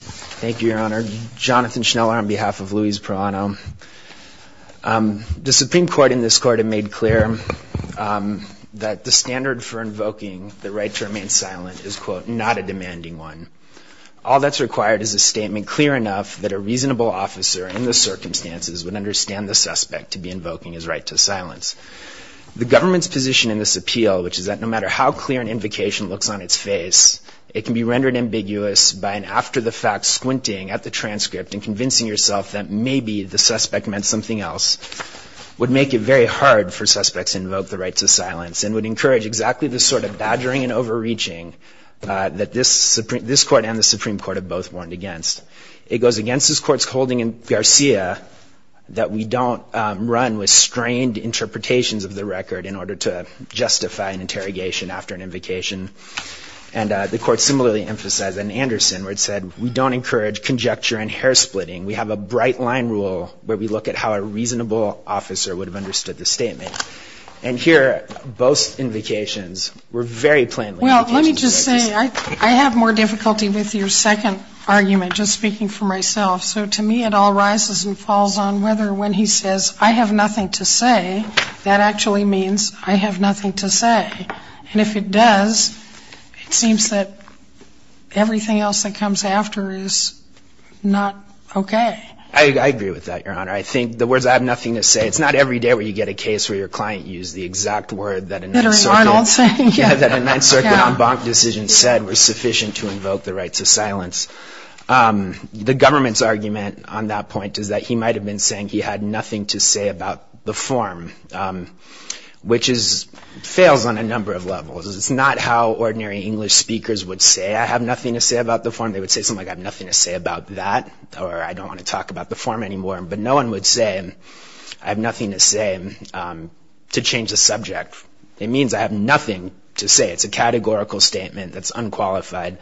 Thank you your honor. Jonathan Schneller on behalf of Luis Proano. The Supreme Court in this court have made clear that the standard for invoking the right to remain silent is quote not a demanding one. All that's required is a statement clear enough that a reasonable officer in the circumstances would understand the suspect to be invoking his right to silence. The government's position in this appeal which is that no matter how clear an invocation looks on its face it can be rendered ambiguous by an after-the-fact squinting at the transcript and convincing yourself that maybe the suspect meant something else would make it very hard for suspects to invoke the right to silence and would encourage exactly the sort of badgering and overreaching that this Supreme this court and the Supreme Court have both warned against. It goes against this court's holding in Garcia that we don't run with strained interpretations of the record in order to justify an interrogation after an invocation and the court similarly emphasized in Anderson where it said we don't encourage conjecture and hair-splitting. We have a bright line rule where we look at how a reasonable officer would have understood the statement and here both invocations were very plainly. Well let me just say I have more difficulty with your second argument just speaking for myself so to me it all rises and falls on whether when he says I have nothing to say that actually means I have nothing to say and if it does it seems that everything else that comes after is not okay. I agree with that your honor I think the words I have nothing to say it's not every day where you get a case where your client used the exact word that a 9th Circuit en banc decision said was sufficient to invoke the rights of silence. The government's argument on that point is that he might have been saying he had nothing to say about the form which is fails on a number of levels. It's not how ordinary English speakers would say I have nothing to say about the form they would say something like I have nothing to say about that or I don't want to talk about the form anymore but no one would say I have nothing to say to change the subject. It means I have nothing to say it's a categorical statement that's unqualified.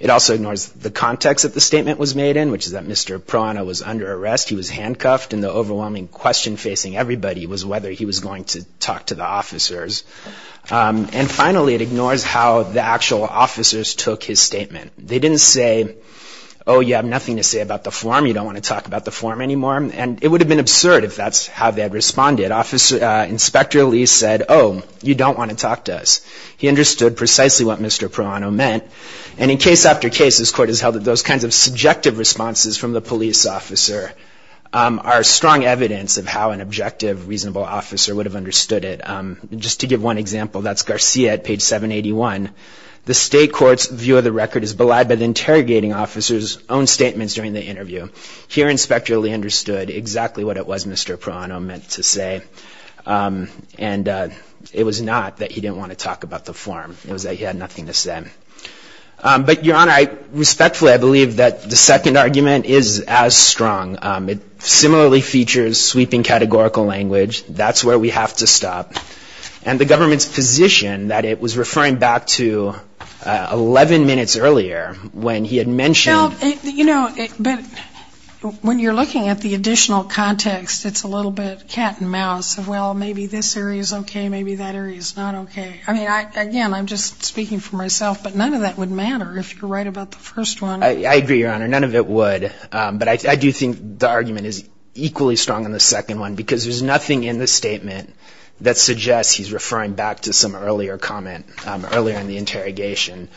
It also ignores the context that the statement was made in which is that Mr. Proana was under arrest he was handcuffed and the overwhelming question facing everybody was whether he was going to talk to the police officer and finally it ignores how the actual officers took his statement. They didn't say oh you have nothing to say about the form you don't want to talk about the form anymore and it would have been absurd if that's how they had responded. Inspector Lee said oh you don't want to talk to us. He understood precisely what Mr. Proano meant and in case after case this court has held that those kinds of subjective responses from the police officer are strong evidence of how an objective reasonable officer would have understood it. Just to give one example that's Garcia at page 781. The state court's view of the record is belied by the interrogating officers own statements during the interview. Here inspector Lee understood exactly what it was Mr. Proano meant to say and it was not that he didn't want to talk about the form. It was that he had nothing to say. But your honor I respectfully I believe that the second argument is as strong. It similarly features sweeping categorical language. That's where we have to stop and the government's position that it was referring back to 11 minutes earlier when he had mentioned. You know but when you're looking at the additional context it's a little bit cat-and-mouse of well maybe this area is okay maybe that area is not okay. I mean I again I'm just speaking for myself but none of that would matter if you're right about the first one. I agree your honor none of it would but I do think the argument is nothing in the statement that suggests he's referring back to some earlier comment earlier in the interrogation.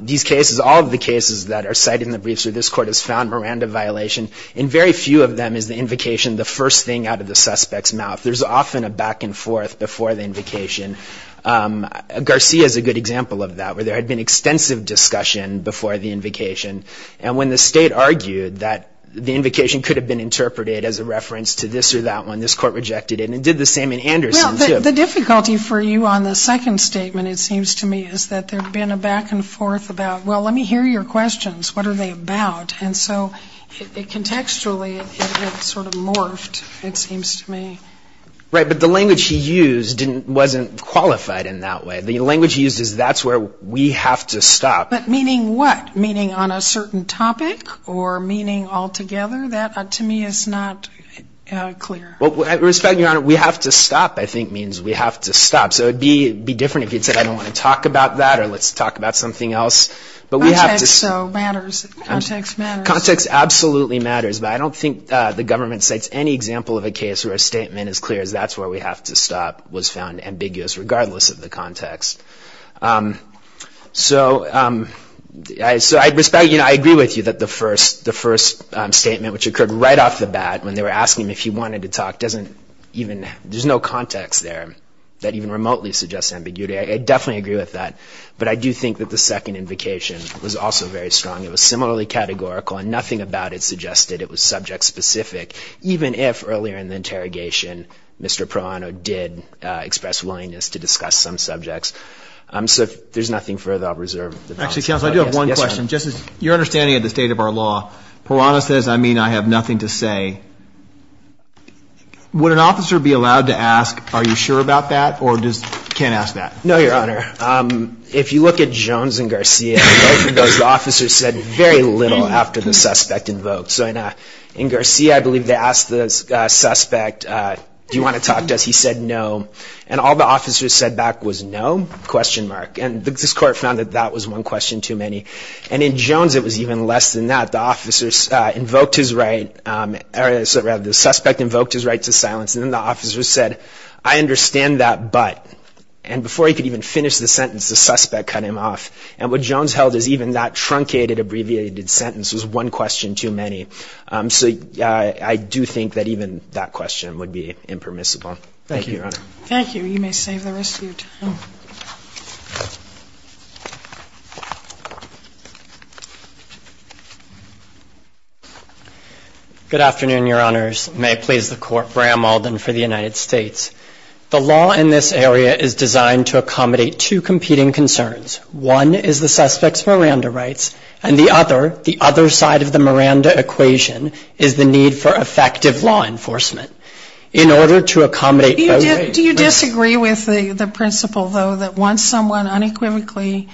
These cases all of the cases that are cited in the briefs or this court has found Miranda violation in very few of them is the invocation the first thing out of the suspects mouth. There's often a back-and-forth before the invocation. Garcia is a good example of that where there had been extensive discussion before the invocation and when the state argued that the invocation could have been interpreted as a reference to this or that one this court rejected it and did the same in Anderson. The difficulty for you on the second statement it seems to me is that there's been a back-and- forth about well let me hear your questions what are they about and so it contextually it sort of morphed it seems to me. Right but the language he used didn't wasn't qualified in that way the language uses that's where we have to stop. But meaning what meaning on a certain topic or meaning altogether that to me is not clear. Well I respect your honor we have to stop I think means we have to stop so it'd be be different if you'd said I don't want to talk about that or let's talk about something else but we have to. So matters context matters. Context absolutely matters but I don't think the government cites any example of a case where a statement as clear as that's where we have to stop was found ambiguous regardless of the context. So I respect you know I agree with you that the first the first statement which occurred right off the bat when they were asking him if he wanted to talk doesn't even there's no context there that even remotely suggests ambiguity. I definitely agree with that but I do think that the second invocation was also very strong it was similarly categorical and nothing about it suggested it was subject-specific even if earlier in the interrogation Mr. Proano did express willingness to discuss some subjects. So there's nothing further I'll reserve. Actually counsel I at the state of our law Proano says I mean I have nothing to say. Would an officer be allowed to ask are you sure about that or just can't ask that? No your honor if you look at Jones and Garcia the officer said very little after the suspect invoked so in Garcia I believe they asked the suspect do you want to talk to us he said no and all the officers said back was no question mark and this court found that that was one question too many and in less than that the officers invoked his right or rather the suspect invoked his right to silence and the officers said I understand that but and before he could even finish the sentence the suspect cut him off and what Jones held is even that truncated abbreviated sentence was one question too many so yeah I do think that even that question would be impermissible. Thank you. Thank you you may save the rest of your time. Good afternoon your honors may I please the court Bram Alden for the United States. The law in this area is designed to accommodate two competing concerns. One is the suspects Miranda rights and the other the other side of the Miranda equation is the need for effective law enforcement. In order to accommodate do you disagree with the the principle though that once someone unequivocally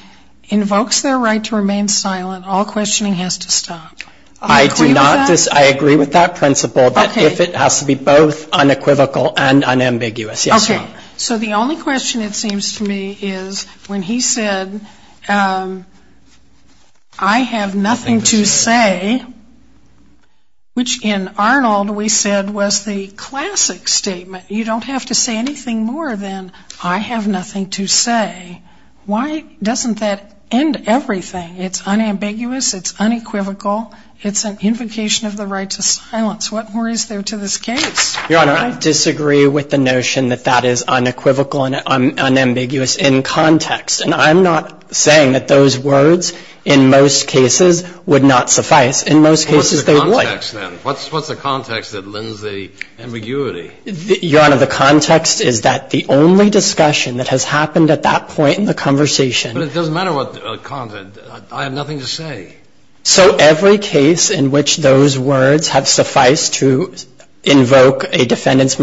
invokes their right to remain silent all questioning has to stop. I do not just I agree with that principle but if it has to be both unequivocal and unambiguous. Okay so the only question it seems to me is when he said I have nothing to say which in Arnold we said was the classic statement you don't have to say anything more than I have nothing to say why doesn't that end everything it's unambiguous it's unequivocal it's an invocation of the right to silence what more is there to this case. Your honor I disagree with the context and I'm not saying that those words in most cases would not suffice in most cases they would. What's the context then? What's the context that lends the ambiguity? Your honor the context is that the only discussion that has happened at that point in the conversation. But it doesn't matter what the content I have nothing to say. So every case in which those words have sufficed to invoke a defendant's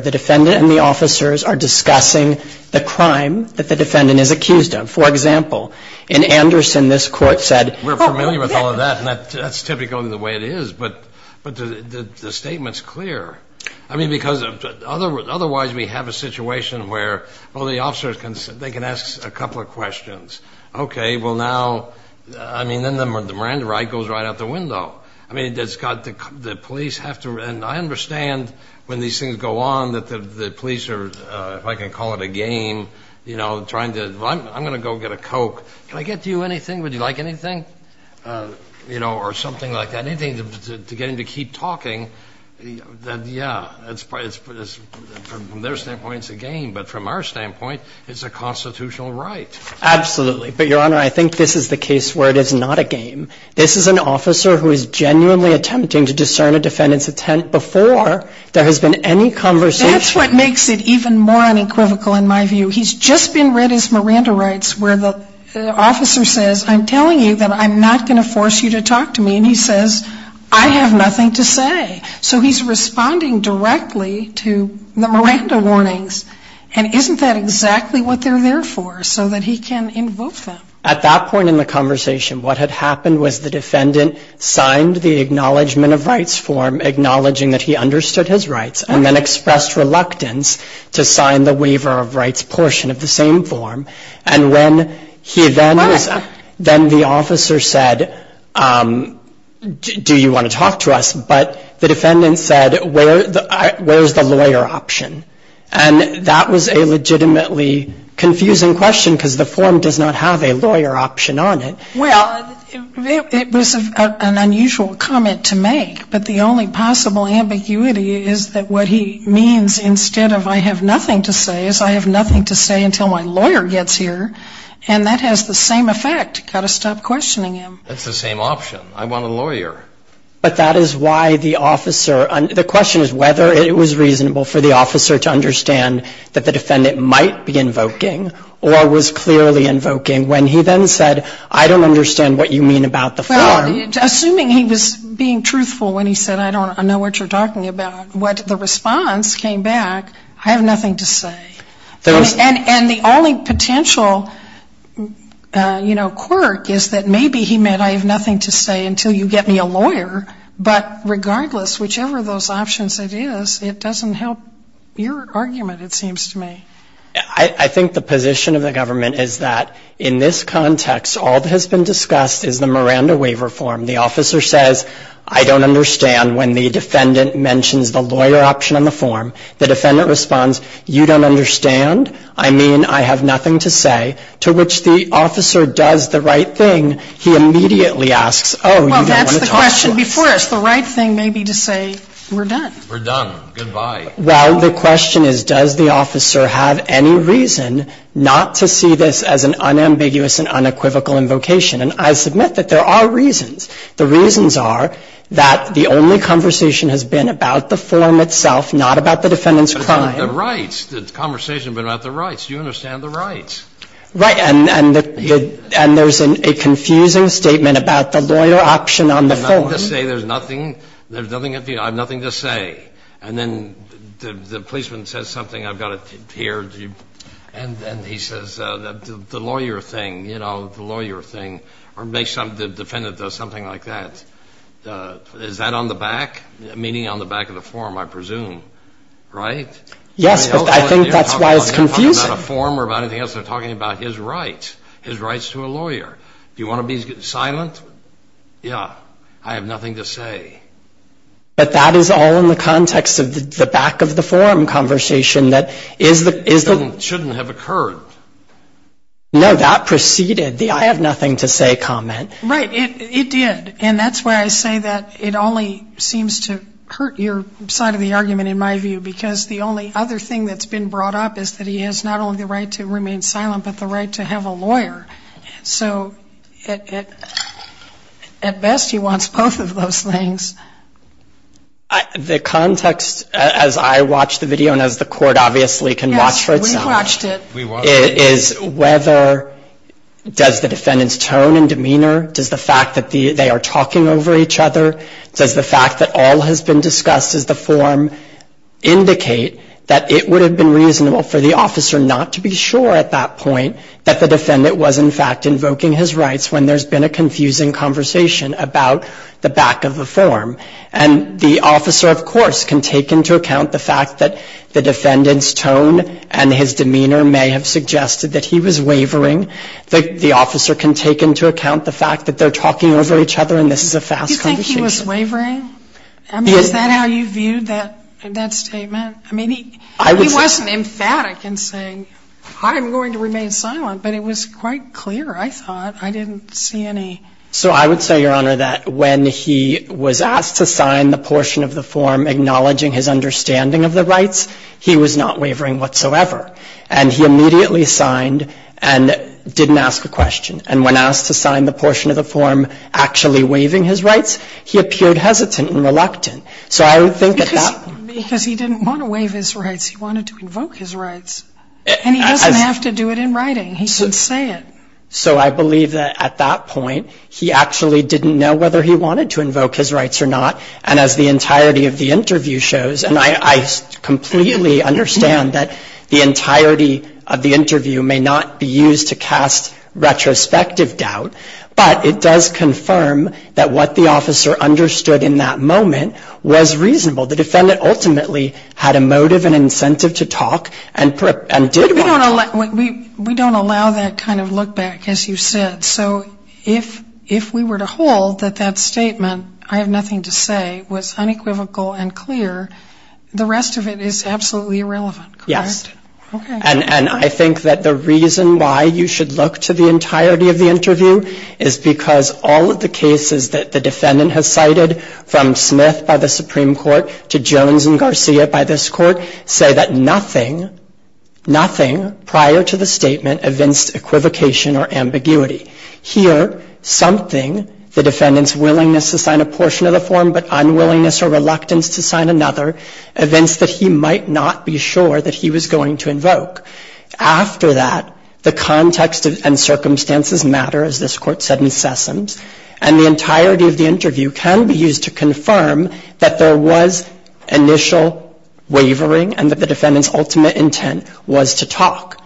I mean because otherwise we have a situation where the police have to and I understand when these things happen it's a situation where the defendant and the officers are discussing the crime that the defendant is accused of. For example in Anderson this court said we're familiar with all of that and that's typically the way it is but the statement's clear. I mean because otherwise we have a situation where well the officers can they can ask a couple of questions okay well now I mean then the Miranda right goes right out the window. I mean it's got the police have to and I understand when these things go on that the police are if I can call it a game you know trying to I'm gonna go get a coke can I get to you anything would you like anything you know or something like that anything to get him to keep talking that yeah it's from their standpoint it's a game but from our standpoint it's a constitutional right. Absolutely but Your Honor I think this is the case where it is not a game. This is an officer who is genuinely attempting to discern a defendant's intent before there has been any conversation. That's what makes it even more unequivocal in my view. He's just been read his Miranda rights where the officer says I'm telling you that I'm not going to force you to talk to me and he says I have nothing to say. So he's responding directly to the Miranda warnings and isn't that exactly what they're there for so that he can invoke them. At that point in the conversation what had happened was the defendant signed the acknowledgment of rights form acknowledging that he understood his rights and then expressed reluctance to sign the waiver of rights portion of the same form and when he then was then the officer said do you want to talk to us but the defendant said where is the lawyer option and that was a legitimately confusing question because the form does not have a lawyer option on it. Well it was an unusual comment to make but the only possible ambiguity is that what he means instead of I have nothing to say is I have nothing to say until my lawyer gets here and that has the same effect. Got to stop questioning him. That's the same option. I want a lawyer. But that is why the officer the question is whether it was reasonable for the officer to understand that the defendant might be invoking or was clearly invoking when he then said I don't understand what you mean about the form. Assuming he was being truthful when he said I don't know what you're talking about, what the response came back I have nothing to say. And the only potential, you know, quirk is that maybe he meant I have nothing to say until you get me a lawyer but regardless whichever those options it is it doesn't help your argument it seems to me. I think the position of the government is that in this context all that has been discussed is the Miranda waiver form. The officer says I don't understand when the defendant mentions the lawyer option on the form. The defendant responds you don't understand. I mean I have nothing to say to which the officer does the right thing. He immediately asks oh you don't want to talk to us. Well that's the question before us. The right thing may be to say we're done. We're done. Goodbye. Well the question is does the officer have any reason not to see this as an unambiguous and unequivocal invocation. And I submit that there are reasons. The reasons are that the only conversation has been about the form itself not about the defendant's crime. The rights. The conversation has been about the rights. You understand the rights. Right. And there's a confusing statement about the lawyer option on the form. I have nothing to say. There's nothing. There's nothing. I have nothing to say. And then the policeman says something I've got to hear. And then he says the lawyer thing you know the lawyer thing or make some defendant does something like that. Is that on the back. Meaning on the back of the form I presume. Right. Yes. I think that's why it's confusing. A form or about anything else they're talking about his rights. His rights to a lawyer. Do you want to be silent. Yeah. I have nothing to say. But that is all in the context of the back of the form conversation that is that is that shouldn't have occurred. No that preceded the I have nothing to say comment. Right. It did. And that's why I say that it only seems to hurt your side of the argument in my view because the only other thing that's been brought up is that he has not only the right to remain silent but the right to have a lawyer. So it at best he wants both of those things. The context as I watch the video and as the court obviously can watch for itself is whether does the defendant's tone and demeanor. Does the fact that they are talking over each other. Does the fact that all has been discussed as the form indicate that it would have been reasonable for the officer not to be sure at that point that the defendant was in fact invoking his rights when there's been a confusing conversation about the back of the form. And the officer of course can take into account the fact that the defendant's tone and his demeanor may have suggested that he was wavering. The officer can take into account the fact that they're talking over each other and this is a fast conversation. I mean is this wavering? Is that how you viewed that statement? I mean he wasn't emphatic in saying I'm going to remain silent but it was quite clear I thought. I didn't see any. So I would say Your Honor that when he was asked to sign the portion of the form acknowledging his understanding of the rights he was not wavering whatsoever. And he immediately signed and didn't ask a question. And when asked to sign the portion of the form actually waiving his rights he appeared hesitant and reluctant. So I would think at that point. Because he didn't want to waive his rights. He wanted to invoke his rights. And he doesn't have to do it in writing. He can say it. So I believe that at that point he actually didn't know whether he wanted to invoke his rights or not. And as the entirety of the interview shows, and I completely understand that the entirety of the interview may not be used to cast retrospective doubt, but it does confirm that what the officer understood in that moment was reasonable. The defendant ultimately had a motive and incentive to talk and did want to talk. We don't allow that kind of look back, as you said. So if we were to hold that that statement, I have nothing to say, was unequivocal and clear, the rest of it is absolutely irrelevant, correct? Yes. Okay. And I think that the reason why you should look to the entirety of the interview is because all of the cases that the defendant has cited, from Smith by the Supreme Court to Jones and Garcia by this court, say that nothing, nothing prior to the statement evinced equivocation or ambiguity. Here, something, the defendant's willingness to sign a portion of the form but unwillingness or reluctance to sign another, evinced that he might not be sure that he was going to invoke. After that, the context and circumstances matter, as this court said in Sessoms, and the entirety of the interview can be used to confirm that there was initial wavering and that the defendant's ultimate intent was to talk.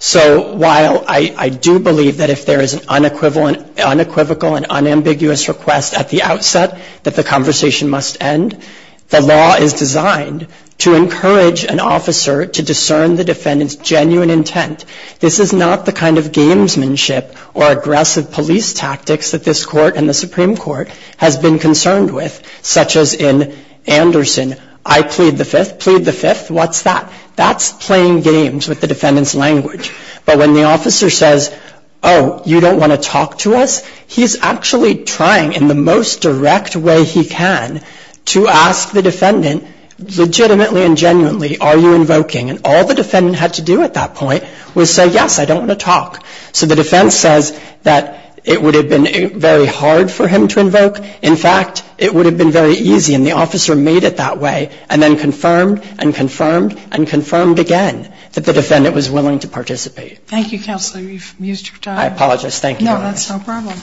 So while I do believe that if there is an unequivocal and unambiguous request at the outset that the conversation must end, the law is designed to encourage an officer to discern the defendant's genuine intent. This is not the kind of gamesmanship or aggressive police tactics that this court and the Supreme Court has been concerned with, such as in Anderson, I plead the fifth, plead the fifth, what's that? That's playing games with the defendant's language. But when the officer says, oh, you don't want to talk to us? He's actually trying in the most direct way he can to ask the defendant legitimately and genuinely, are you invoking? And all the defendant had to do at that point was say, yes, I don't want to talk. So the defense says that it would have been very hard for him to invoke. In fact, it would have been very easy, and the officer made it that way and then confirmed and confirmed and confirmed again that the defendant was willing to participate. Thank you, Counselor. You've used your time. I apologize. Thank you. No, that's no problem.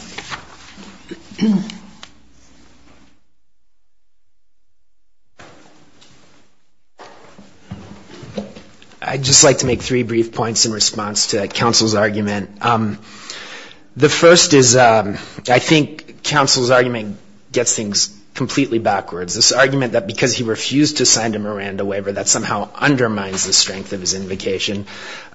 I'd just like to make three brief points in response to Counsel's argument. The first is I think Counsel's argument gets things completely backwards. This argument that because he refused to sign a Miranda waiver, that somehow undermines the strength of his invocation.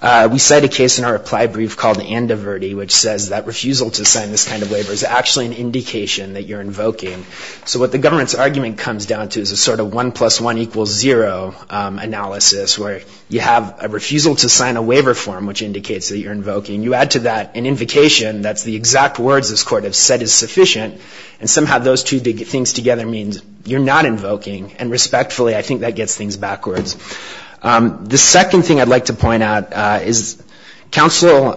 We cite a case in our reply brief called Andoverti, which says that refusal to sign this kind of waiver, is actually an indication that you're invoking. So what the government's argument comes down to is a sort of one plus one equals zero analysis, where you have a refusal to sign a waiver form, which indicates that you're invoking. You add to that an invocation, that's the exact words this court has said is sufficient, and somehow those two things together means you're not invoking. And respectfully, I think that gets things backwards. The second thing I'd like to point out is Counsel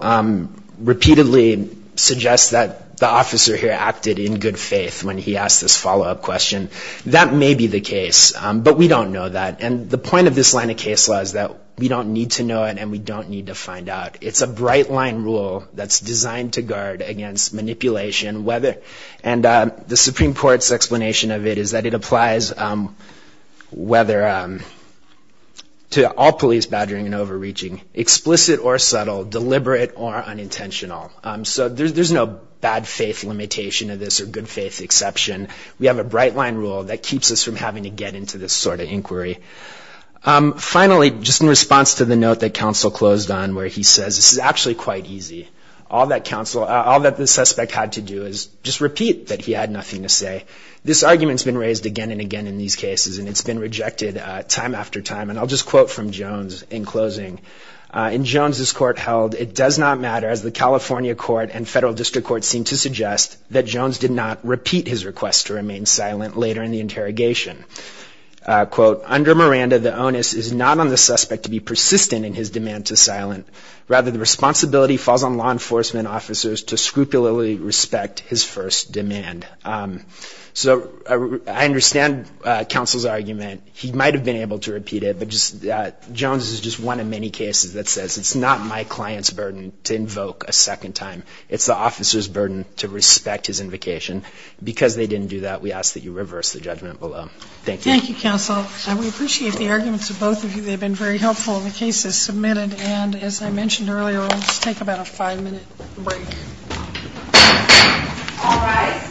repeatedly suggests that the officer here acted in good faith when he asked this follow-up question. That may be the case, but we don't know that. And the point of this line of case law is that we don't need to know it, and we don't need to find out. It's a bright line rule that's designed to guard against manipulation. And the Supreme Court's explanation of it is that it applies to all police badgering and overreaching, explicit or subtle, deliberate or unintentional. So there's no bad faith limitation of this or good faith exception. We have a bright line rule that keeps us from having to get into this sort of inquiry. Finally, just in response to the note that Counsel closed on, where he says this is actually quite easy, all that the suspect had to do is just repeat that he had nothing to say. This argument's been raised again and again in these cases, and it's been rejected time after time. And I'll just quote from Jones in closing. In Jones's court held, it does not matter, as the California court and federal district court seem to suggest, that Jones did not repeat his request to remain silent later in the interrogation. Quote, So I understand Counsel's argument. He might have been able to repeat it, but Jones is just one of many cases that says it's not my client's burden to invoke a second time. It's the officer's burden to respect his invocation. Because they didn't do that, we ask that you reverse the judgment below. Thank you. Thank you, Counsel. We appreciate the arguments of both of you. They've been very helpful in the cases submitted. And as I mentioned earlier, let's take about a five-minute break. All rise.